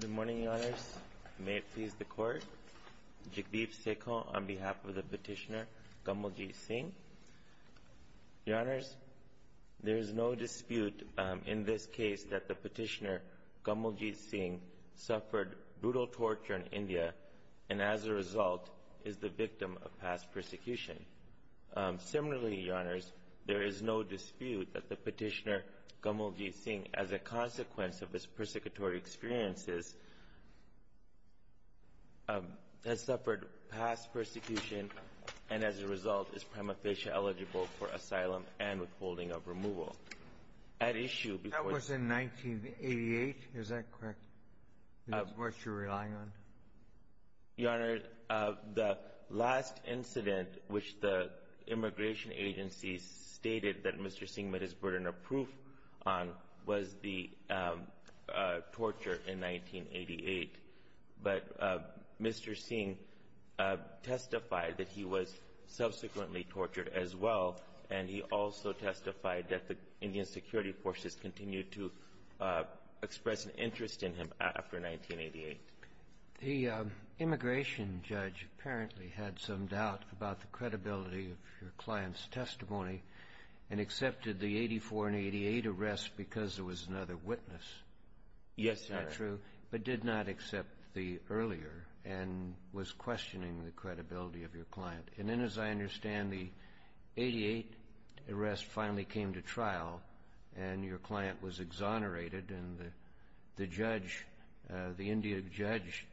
Good morning, Your Honours. May it please the Court. Jagdeep Sekhon on behalf of the petitioner, Gamaljeet Singh. Your Honours, there is no dispute in this case that the petitioner, Gamaljeet Singh, suffered brutal torture in India and as a result is the victim of past persecution. Similarly, Your Honours, there is no dispute that the petitioner, Gamaljeet Singh, as a consequence of his persecutory experiences, has suffered past persecution and as a result is prima facie eligible for asylum and withholding of removal. At issue before the — That was in 1988, is that correct? Is that what you're relying on? Your Honours, the last incident which the immigration agency stated that Mr. Singh met his burden of proof on was the torture in 1988. But Mr. Singh testified that he was subsequently tortured as well, and he also testified that the Indian security forces continued to express an interest in him after 1988. The immigration judge apparently had some doubt about the credibility of your client's because there was another witness, is that true? Yes, Your Honours. But did not accept the earlier and was questioning the credibility of your client. And then, as I understand, the 1988 arrest finally came to trial and your client was exonerated and the judge, the Indian judge,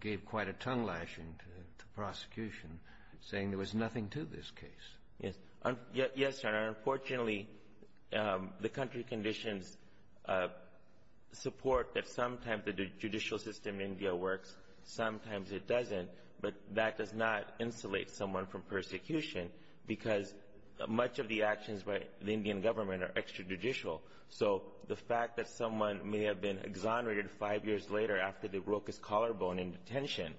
gave quite a tongue-lashing to the prosecution, saying there was nothing to this case. Yes, Your Honours. Unfortunately, the country conditions support that sometimes the judicial system in India works, sometimes it doesn't, but that does not insulate someone from persecution because much of the actions by the Indian government are extrajudicial. So the fact that someone may have been exonerated five years later after they broke his collarbone in detention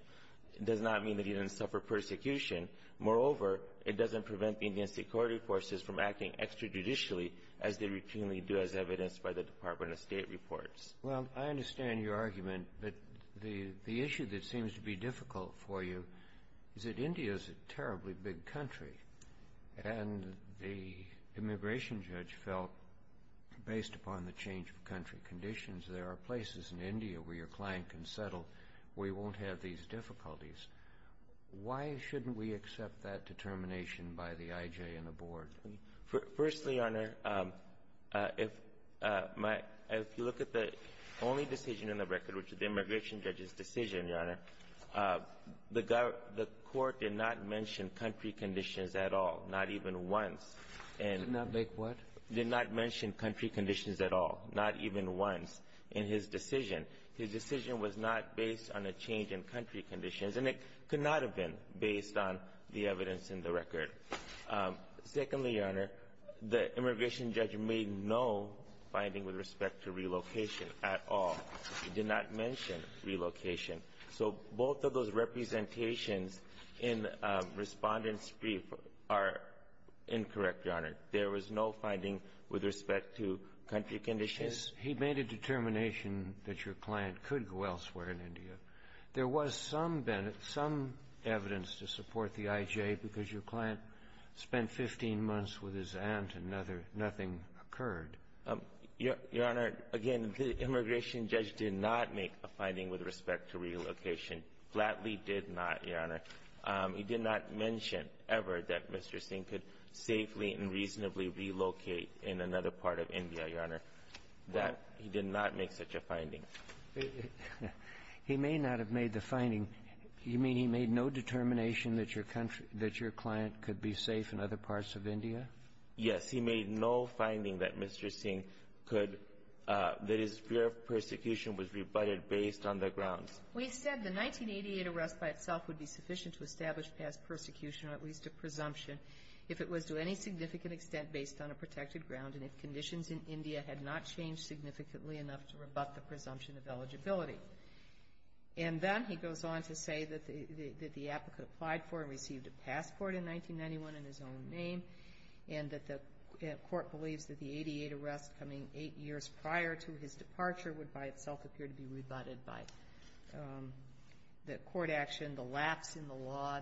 does not mean that he didn't suffer persecution. Moreover, it doesn't prevent the Indian security forces from acting extrajudicially as they routinely do as evidenced by the Department of State reports. Well, I understand your argument. But the issue that seems to be difficult for you is that India is a terribly big country, and the immigration judge felt, based upon the change of country conditions, there are places in India where your client can settle where he won't have these difficulties. Why shouldn't we accept that determination by the IJ and the board? Firstly, Your Honor, if my – if you look at the only decision in the record, which is the immigration judge's decision, Your Honor, the court did not mention country conditions at all, not even once. Did not make what? Did not mention country conditions at all, not even once in his decision. His decision was not based on a change in country conditions, and it could not have been based on the evidence in the record. Secondly, Your Honor, the immigration judge made no finding with respect to relocation at all. He did not mention relocation. So both of those representations in Respondent's brief are incorrect, Your Honor. There was no finding with respect to country conditions. He made a determination that your client could go elsewhere in India. There was some evidence to support the IJ because your client spent 15 months with his aunt and nothing occurred. Your Honor, again, the immigration judge did not make a finding with respect to relocation, flatly did not, Your Honor. He did not mention ever that Mr. Singh could safely and reasonably relocate in another part of India, Your Honor. That he did not make such a finding. He may not have made the finding. You mean he made no determination that your country – that your client could be safe in other parts of India? Yes. He made no finding that Mr. Singh could – that his fear of persecution was rebutted based on the grounds. We said the 1988 arrest by itself would be sufficient to establish past persecution in India had not changed significantly enough to rebut the presumption of eligibility. And then he goes on to say that the applicant applied for and received a passport in 1991 in his own name and that the court believes that the 88 arrests coming eight years prior to his departure would by itself appear to be rebutted by the court action, the lapse in the law,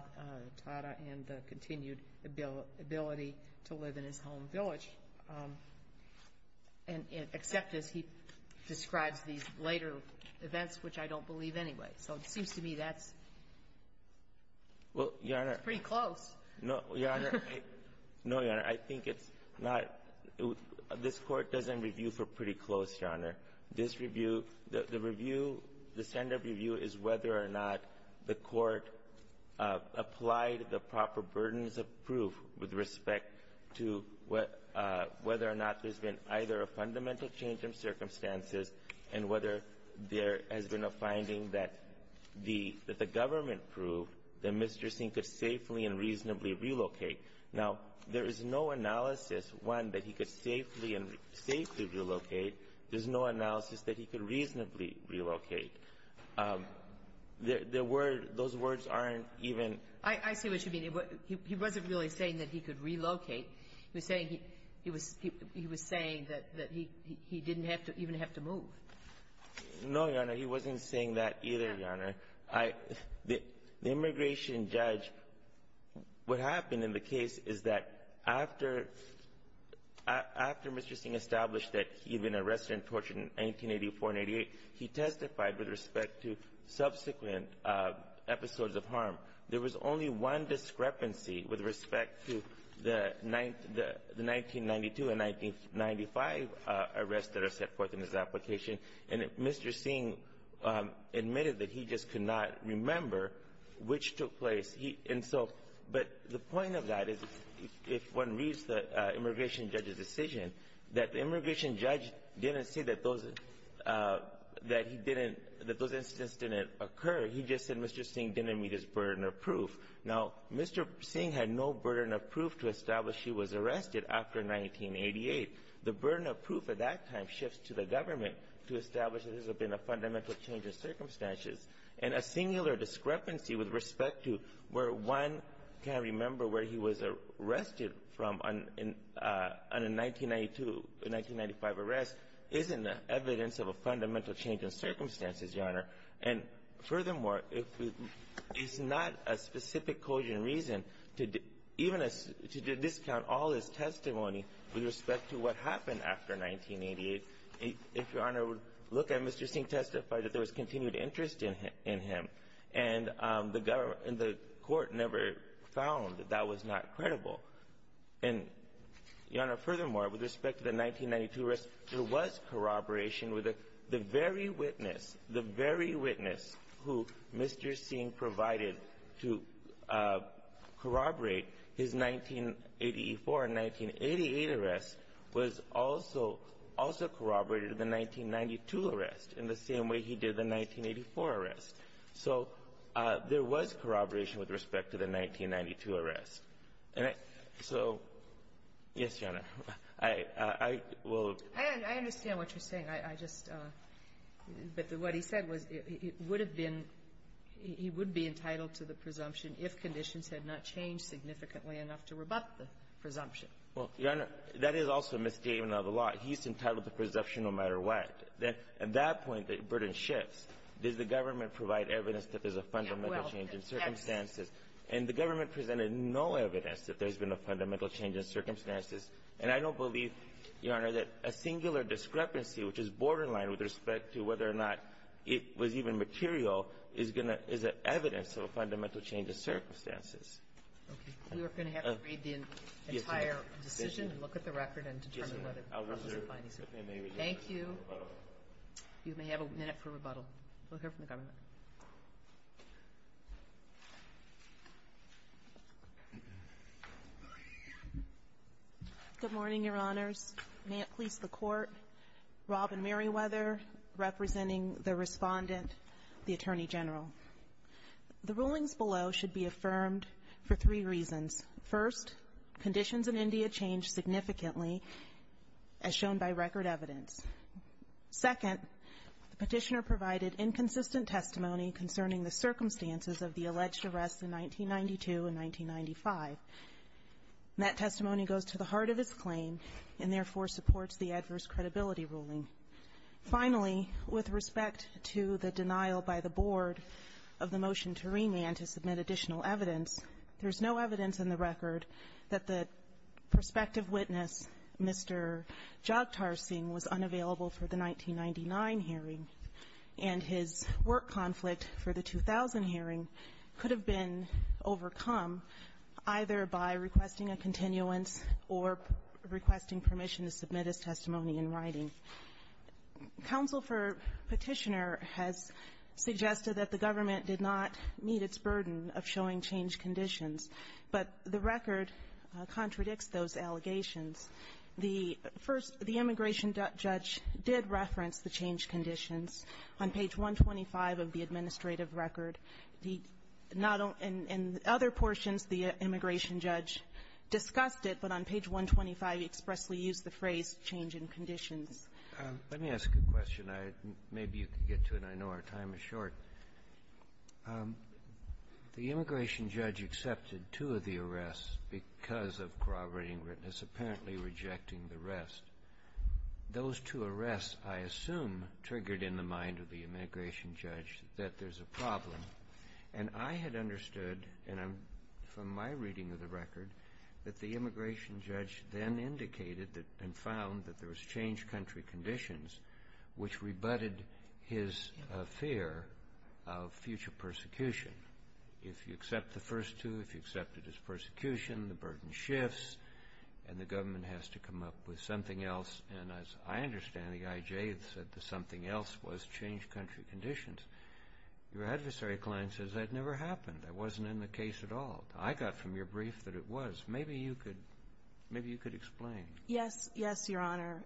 Tata, and the continued ability to live in his home language. And except as he describes these later events, which I don't believe anyway. So it seems to me that's pretty close. Well, Your Honor, no, Your Honor. No, Your Honor. I think it's not – this Court doesn't review for pretty close, Your Honor. This review – the review, the standard review is whether or not the court applied the proper burdens of proof with respect to whether or not there's been either a fundamental change in circumstances and whether there has been a finding that the government proved that Mr. Singh could safely and reasonably relocate. Now, there is no analysis, one, that he could safely and – safely relocate. There's no analysis that he could reasonably relocate. The word – those words aren't even – I see what you mean. He wasn't really saying that he could relocate. He was saying he – he was – he was saying that he didn't have to – even have to move. No, Your Honor. He wasn't saying that either, Your Honor. I – the immigration judge – what happened in the case is that after – after Mr. Singh established that he had been arrested and tortured in 1984 and 88, he testified with respect to subsequent episodes of harm. There was only one discrepancy with respect to the – the 1992 and 1995 arrests that are set forth in his application, and Mr. Singh admitted that he just could not remember which took place. He – and so – but the point of that is if one reads the immigration judge's that those incidents didn't occur. He just said Mr. Singh didn't meet his burden of proof. Now, Mr. Singh had no burden of proof to establish he was arrested after 1988. The burden of proof at that time shifts to the government to establish that this has been a fundamental change in circumstances. And a singular discrepancy with respect to where one can remember where he was arrested from on – on a 1992, 1995 arrest isn't evidence of a fundamental change in circumstances, Your Honor. And furthermore, if – it's not a specific cogent reason to – even to discount all his testimony with respect to what happened after 1988. If Your Honor would look at Mr. Singh testified that there was continued interest in him, and the government – and the court never found that that was not credible. And, Your Honor, furthermore, with respect to the 1992 arrest, there was corroboration with the very witness, the very witness who Mr. Singh provided to corroborate his 1984 and 1988 arrests was also – also corroborated the 1992 arrest in the same way he did the 1984 arrest. So there was corroboration with respect to the 1992 arrest. And so – yes, Your Honor. I will – I understand what you're saying. I just – but what he said was it would have been – he would be entitled to the presumption if conditions had not changed significantly enough to rebut the presumption. Well, Your Honor, that is also a misstatement of the law. He's entitled to presumption no matter what. At that point, the burden shifts. Does the government provide evidence that there's a fundamental change in circumstances? And the government presented no evidence that there's been a fundamental change in circumstances. And I don't believe, Your Honor, that a singular discrepancy, which is borderline with respect to whether or not it was even material, is going to – is evidence of a fundamental change in circumstances. Okay. We are going to have to read the entire decision and look at the record and determine whether the presumption is binding. Thank you. Thank you. You may have a minute for rebuttal. We'll hear from the government. Good morning, Your Honors. May it please the Court. Robin Meriwether representing the Respondent, the Attorney General. The rulings below should be affirmed for three reasons. First, conditions in India change significantly, as shown by record evidence. Second, the Petitioner provided inconsistent testimony concerning the circumstances of the alleged arrests in 1992 and 1995. That testimony goes to the heart of his claim and, therefore, supports the adverse credibility ruling. Finally, with respect to the denial by the Board of the motion to remand to submit additional evidence, there's no evidence in the record that the prospective witness, Mr. Jagtar Singh, was unavailable for the 1999 hearing, and his work conflict for the 2000 hearing could have been overcome either by requesting a continuance or requesting permission to submit his testimony in writing. Counsel for Petitioner has suggested that the government did not meet its burden of showing changed conditions, but the record contradicts those allegations. The first, the immigration judge did reference the changed conditions on page 125 of the administrative record. He not only – in other portions, the immigration judge discussed it, but on page 125, he expressly used the phrase, change in conditions. Let me ask a question. I – maybe you can get to it. I know our time is short. The immigration judge accepted two of the arrests because of corroborating witness, apparently rejecting the rest. Those two arrests, I assume, triggered in the mind of the immigration judge that there's a problem. And I had understood, and from my reading of the record, that the immigration judge then indicated and found that there was changed country conditions, which rebutted his fear of future persecution. If you accept the first two, if you accepted his persecution, the burden shifts and the government has to come up with something else. And as I understand, the IJ had said that something else was changed country conditions. Your adversary client says that never happened. That wasn't in the case at all. I got from your brief that it was. Maybe you could – maybe you could explain. Yes. Yes, Your Honor.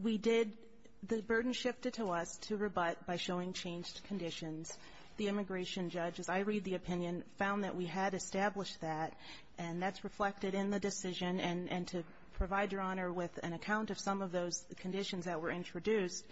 We did – the burden shifted to us to rebut by showing changed conditions. The immigration judge, as I read the opinion, found that we had established that, and that's reflected in the decision. And to provide Your Honor with an account of some of those conditions that were introduced,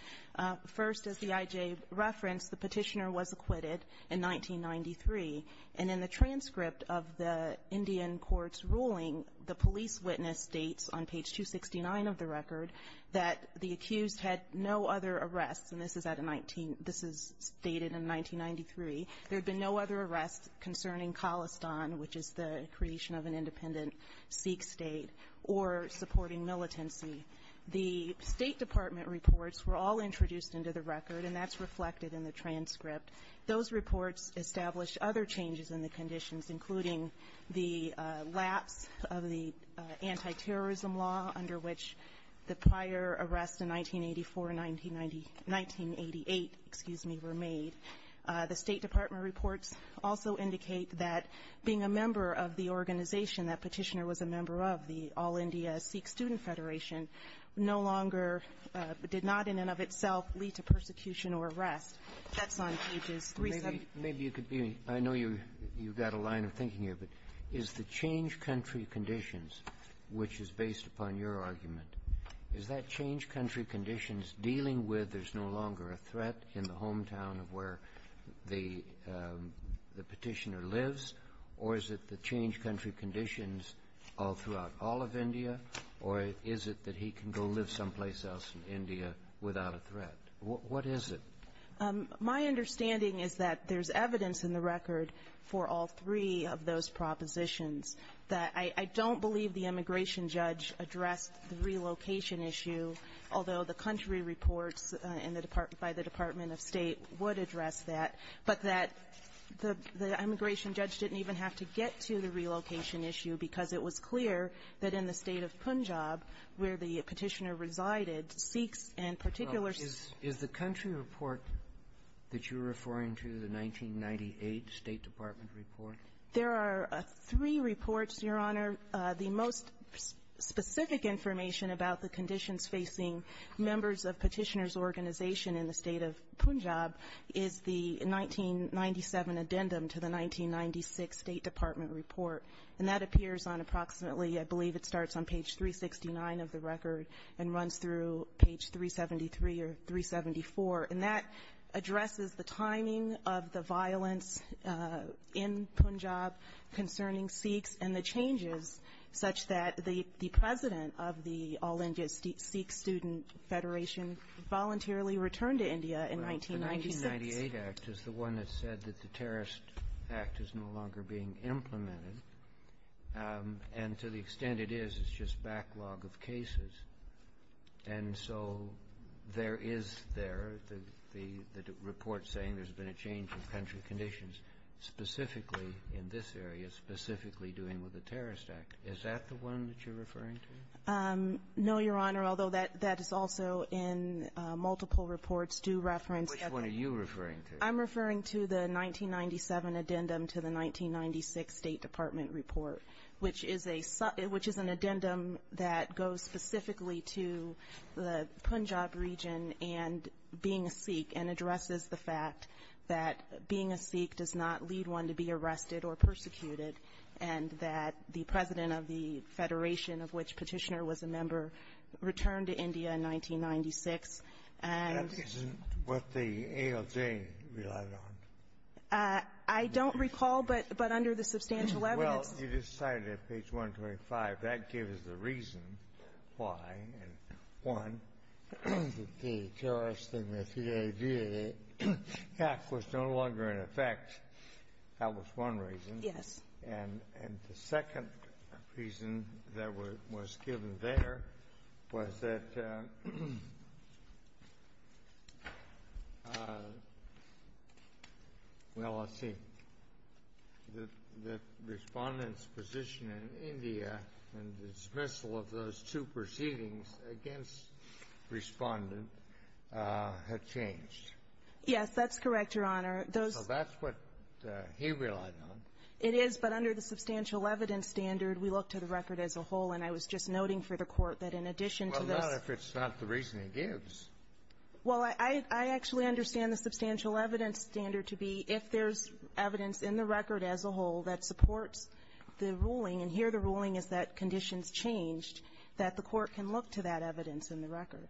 first, as the IJ referenced, the Petitioner was acquitted in 1993. And in the transcript of the Indian court's ruling, the police witness states on page 269 of the record that the accused had no other arrests. And this is at a 19 – this is stated in 1993. There had been no other arrests concerning Khalistan, which is the creation of an independent Sikh state, or supporting militancy. The State Department reports were all introduced into the record, and that's reflected in the transcript. Those reports established other changes in the conditions, including the lapse of the anti-terrorism law under which the prior arrests in 1984 and 1990 – 1988, excuse me, were made. The State Department reports also indicate that being a member of the organization that Petitioner was a member of, the All India Sikh Student Federation, no longer did not in and of itself lead to persecution or arrest. That's on pages 370. Maybe you could be – I know you've got a line of thinking here, but is the change country conditions, which is based upon your argument, is that change country conditions dealing with there's no longer a threat in the hometown of where the Petitioner lives, or is it the change country conditions all throughout all of India, or is it that he can go live someplace else in India without a threat? What is it? My understanding is that there's evidence in the record for all three of those propositions that I don't believe the immigration judge addressed the relocation issue, although the country reports in the – by the Department of State would address that, but that the immigration judge didn't even have to get to the relocation issue because it was clear that in the State of Punjab, where the Petitioner resided, Sikhs and particular – Is the country report that you're referring to the 1998 State Department report? There are three reports, Your Honor. The most specific information about the conditions facing members of Petitioner's organization in the State of Punjab is the 1997 addendum to the 1996 State Department report, and that appears on approximately – I believe it starts on page 369 of the record and runs through page 373 or 374. And that addresses the timing of the violence in Punjab concerning Sikhs and the changes such that the president of the All India Sikh Student Federation voluntarily returned to India in 1996. The 1998 Act is the one that said that the Terrorist Act is no longer being implemented, and to the extent it is, it's just backlog of cases. And so there is there the report saying there's been a change in country conditions specifically in this area, specifically dealing with the Terrorist Act. Is that the one that you're referring to? No, Your Honor, although that is also in multiple reports due reference. Which one are you referring to? I'm referring to the 1997 addendum to the 1996 State Department report, which is a – which is an addendum that goes specifically to the Punjab region and being a Sikh and addresses the fact that being a Sikh does not lead one to be arrested or persecuted, and that the president of the Federation of which Petitioner was a member returned to India in 1996, and – That isn't what the ALJ relied on. I don't recall, but under the substantial evidence – Well, you just cited at page 125, that gives the reason why, and one, the terrorist thing with the idea that the Act was no longer in effect. That was one reason. Yes. And the second reason that was given there was that – well, let's see. The Respondent's position in India and the dismissal of those two proceedings against Respondent had changed. Yes, that's correct, Your Honor. Those – So that's what he relied on. It is, but under the substantial evidence standard, we look to the record as a whole, and I was just noting for the Court that in addition to this – Well, not if it's not the reason he gives. Well, I – I actually understand the substantial evidence standard to be if there's evidence in the record as a whole that supports the ruling, and here the ruling is that conditions changed, that the Court can look to that evidence in the record.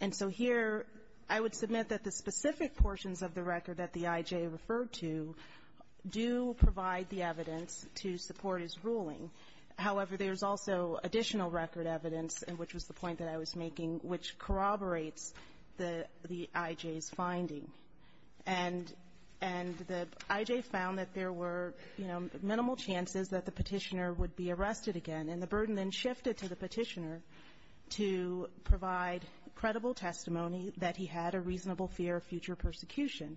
And so here I would submit that the specific portions of the record that the I.J. referred to do provide the evidence to support his ruling. However, there's also additional record evidence, which was the point that I was making, which corroborates the – the I.J.'s finding. And – and the I.J. found that there were, you know, credible testimony that he had a reasonable fear of future persecution.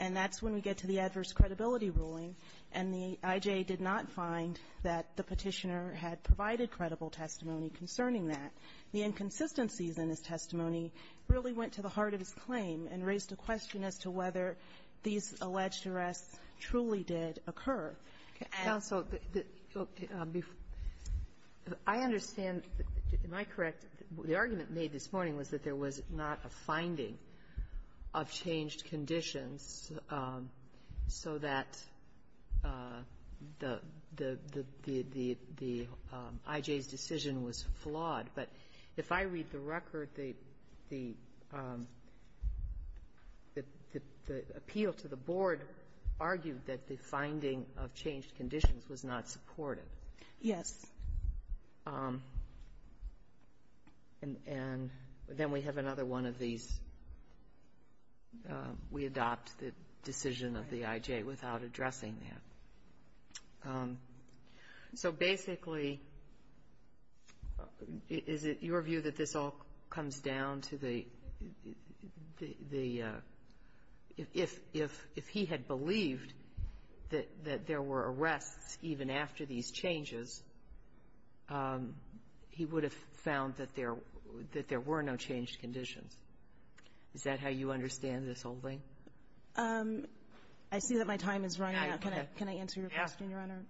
And that's when we get to the adverse credibility ruling, and the I.J. did not find that the Petitioner had provided credible testimony concerning that. The inconsistencies in his testimony really went to the heart of his claim and raised a question as to whether these alleged arrests truly did occur. Kagan. Kagan. Counsel, I understand, am I correct, the argument made this morning was that there was not a finding of changed conditions so that the – the I.J.'s decision was flawed. But if I read the record, the – the appeal to the board argued that the finding of changed conditions was not supportive. Yes. And then we have another one of these, we adopt the decision of the I.J. without addressing that. So basically, is it your view that this all comes down to the – the if – if he had believed that there were arrests even after these changes, he would have found that there – that there were no changed conditions? Is that how you understand this whole thing? I see that my time is running out. Can I answer your question, Your Honor?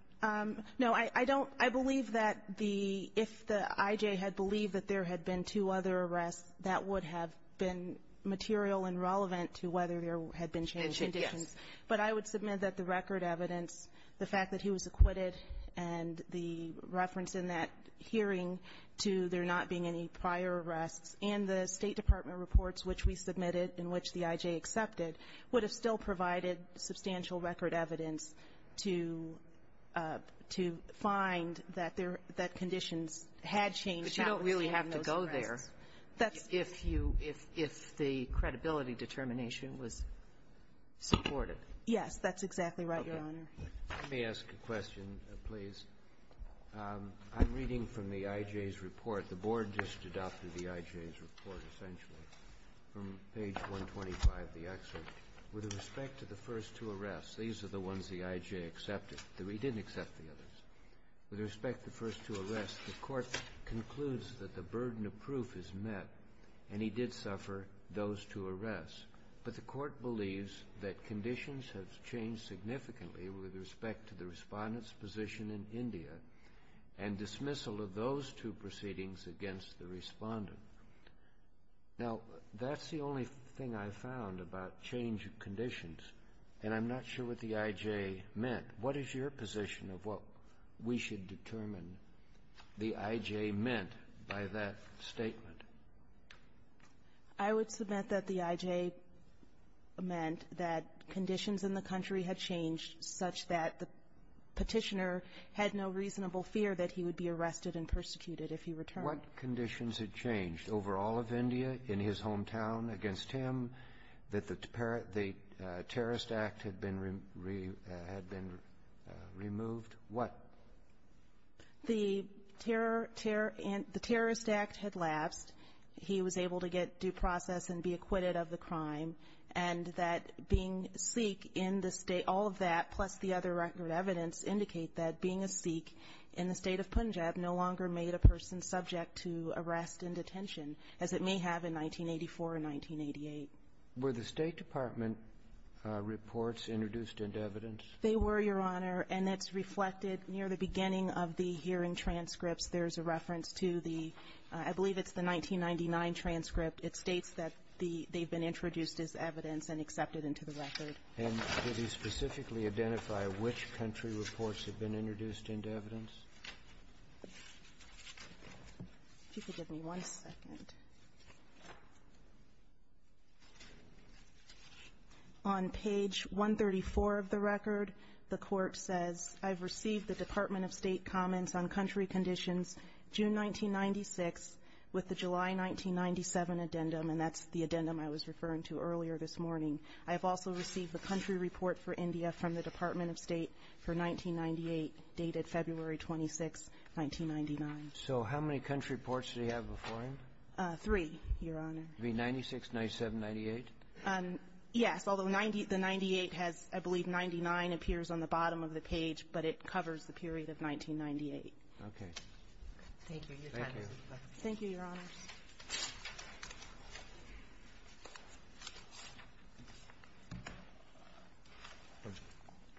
Yes. No, I don't – I believe that the – if the I.J. had believed that there had been two other arrests, that would have been material and relevant to whether there had been changed conditions. It should, yes. But I would submit that the record evidence, the fact that he was acquitted and the reference in that hearing to there not being any prior arrests and the State Department reports which we submitted and which the I.J. accepted would have still been there if you – if the credibility determination was supported. Yes, that's exactly right, Your Honor. Let me ask a question, please. I'm reading from the I.J.'s report. The Board just adopted the I.J.'s report, essentially, from page 125 of the excerpt. With respect to the first two arrests, these are the ones the I.J. accepted. He didn't accept the others. With respect to the first two arrests, the Court concludes that the burden of proof is met and he did suffer those two arrests. But the Court believes that conditions have changed significantly with respect to the Respondent's position in India and dismissal of those two proceedings against the Respondent. Now, that's the only thing I found about change of conditions, and I'm not sure what the I.J. meant. What is your position of what we should determine the I.J. meant by that statement? I would submit that the I.J. meant that conditions in the country had changed such that the Petitioner had no reasonable fear that he would be arrested and persecuted if he returned. What conditions had changed over all of India, in his hometown, against him, that the Terrorist Act had been removed? What? The Terrorist Act had lapsed. He was able to get due process and be acquitted of the crime, and that being Sikh in the state, all of that, plus the other record evidence, indicate that being a Sikh in the state of Punjab no longer made a person subject to arrest and detention as it may have in 1984 and 1988. Were the State Department reports introduced into evidence? They were, Your Honor, and it's reflected near the beginning of the hearing transcripts. There's a reference to the, I believe it's the 1999 transcript. It states that the they've been introduced as evidence and accepted into the record. And did he specifically identify which country reports have been introduced into evidence? If you could give me one second. On page 134 of the record, the Court says, I've received the Department of State comments on country conditions June 1996 with the July 1997 addendum, and that's the addendum I was referring to earlier this morning. I have also received a country report for India from the Department of State for 1998 dated February 26, 1999. So how many country reports did he have before him? Three, Your Honor. You mean 96, 97, 98? Yes. Although the 98 has, I believe, 99 appears on the bottom of the page, but it covers the period of 1998. Okay. Thank you, Your Honor. Thank you. Thank you, Your Honors.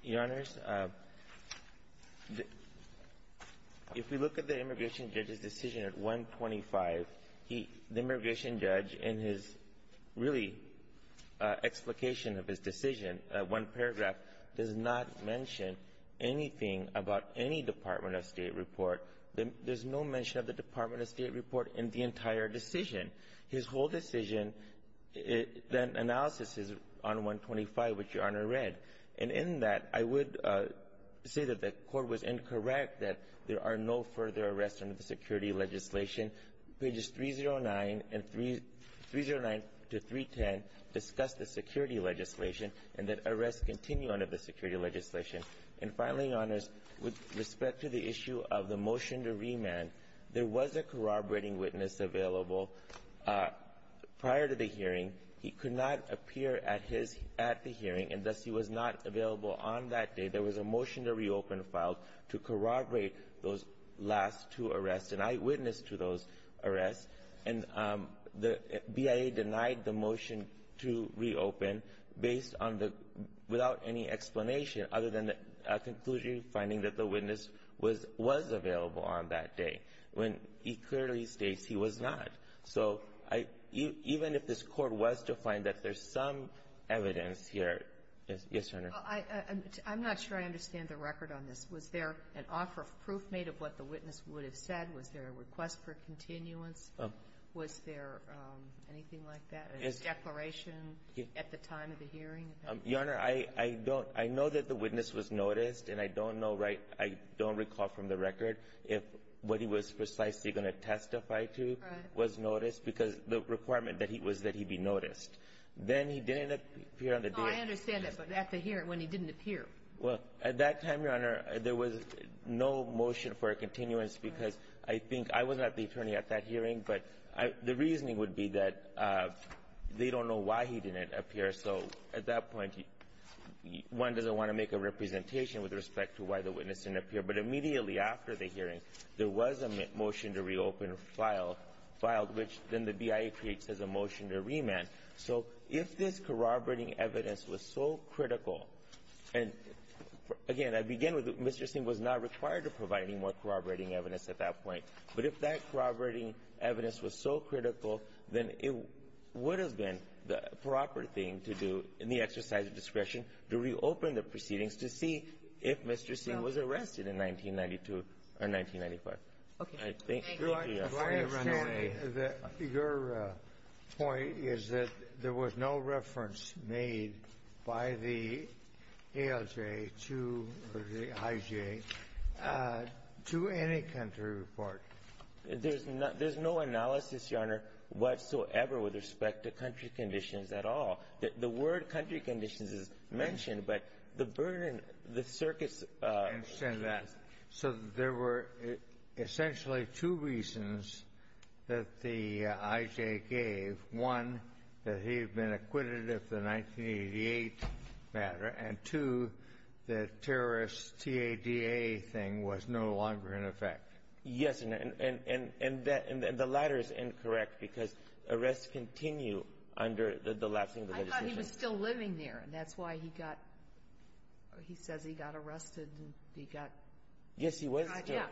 Your Honors, if we look at the immigration judge's decision at 125, the immigration judge in his really explication of his decision, one paragraph, does not mention anything about any Department of State report. There's no mention of the Department of State report in the entire decision. His whole decision, that analysis is on 125, which Your Honor read. And in that, I would say that the Court was incorrect that there are no further arrests under the security legislation. Pages 309 and 309 to 310 discuss the security legislation and that arrests continue under the security legislation. And finally, Your Honors, with respect to the issue of the motion to remand, there was a corroborating witness available prior to the hearing. He could not appear at his — at the hearing, and thus he was not available on that day. There was a motion to reopen filed to corroborate those last two arrests. And I witnessed to those arrests. And the BIA denied the motion to reopen based on the — without any explanation other than a conclusion finding that the witness was available on that day, when he clearly states he was not. So even if this Court was to find that there's some evidence here — yes, Your Honor. I'm not sure I understand the record on this. Was there an offer of proof made of what the witness would have said? Was there a request for continuance? Was there anything like that? A declaration at the time of the hearing? Your Honor, I don't — I know that the witness was noticed, and I don't know right — I don't recall from the record if what he was precisely going to testify to was noticed, because the requirement that he was — that he be noticed. Then he didn't appear on the day. No, I understand that, but at the hearing, when he didn't appear. Well, at that time, Your Honor, there was no motion for a continuance because I think — I was not the attorney at that hearing, but the reasoning would be that they don't know why he didn't appear. So at that point, one doesn't want to make a representation with respect to why the witness didn't appear. But immediately after the hearing, there was a motion to reopen filed, which then the BIA creates as a motion to remand. So if this corroborating evidence was so critical — and, again, I begin with Mr. Singh was not required to provide any more corroborating evidence at that point. But if that corroborating evidence was so critical, then it would have been the proper thing to do in the exercise of discretion to reopen the proceedings to see if Mr. Singh was arrested in 1992 or 1995. Okay. Thank you. Your point is that there was no reference made by the ALJ to the IJ to any country report. There's no analysis, Your Honor, whatsoever with respect to country conditions at all. The word country conditions is mentioned, but the burden, the circuits — I understand that. So there were essentially two reasons that the IJ gave. One, that he had been acquitted of the 1988 matter. And, two, the terrorist TADA thing was no longer in effect. Yes. And the latter is incorrect because arrests continue under the last single legislation. I thought he was still living there, and that's why he got — he says he got arrested and he got — Yes, he was still — Yeah.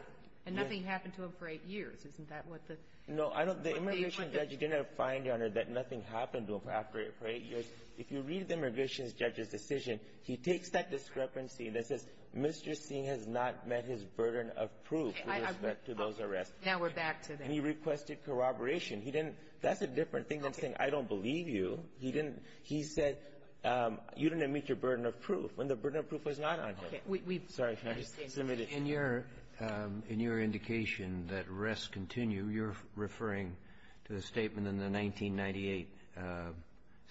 And nothing happened to him for eight years. Isn't that what the — No. I don't — the immigration judge did not find, Your Honor, that nothing happened to him after eight years. If you read the immigration judge's decision, he takes that discrepancy that says Mr. Now we're back to that. And he requested corroboration. He didn't — that's a different thing than saying I don't believe you. He didn't — he said you didn't meet your burden of proof when the burden of proof was not on him. Okay. We — we — Sorry. Can I just — In your — in your indication that arrests continue, you're referring to the statement in the 1998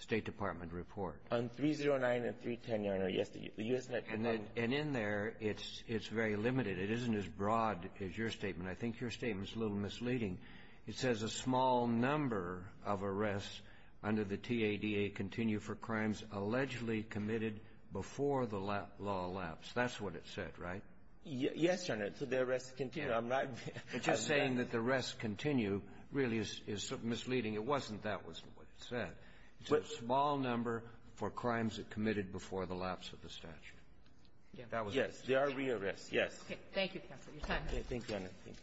State Department report. On 309 and 310, Your Honor. Yes, the U.S. — And in there, it's — it's very limited. It isn't as broad as your statement. I think your statement's a little misleading. It says a small number of arrests under the TADA continue for crimes allegedly committed before the law lapsed. That's what it said, right? Yes, Your Honor. So the arrests continue. I'm not — It's just saying that the arrests continue really is misleading. It wasn't. That wasn't what it said. It's a small number for crimes that committed before the lapse of the statute. Yes. They are re-arrests. Yes. Okay. Thank you, counsel. Your time is up. Thank you, Your Honor. Thank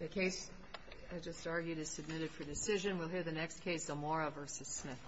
you. The case, I just argued, is submitted for decision. We'll hear the next case, Zamora v. Smith.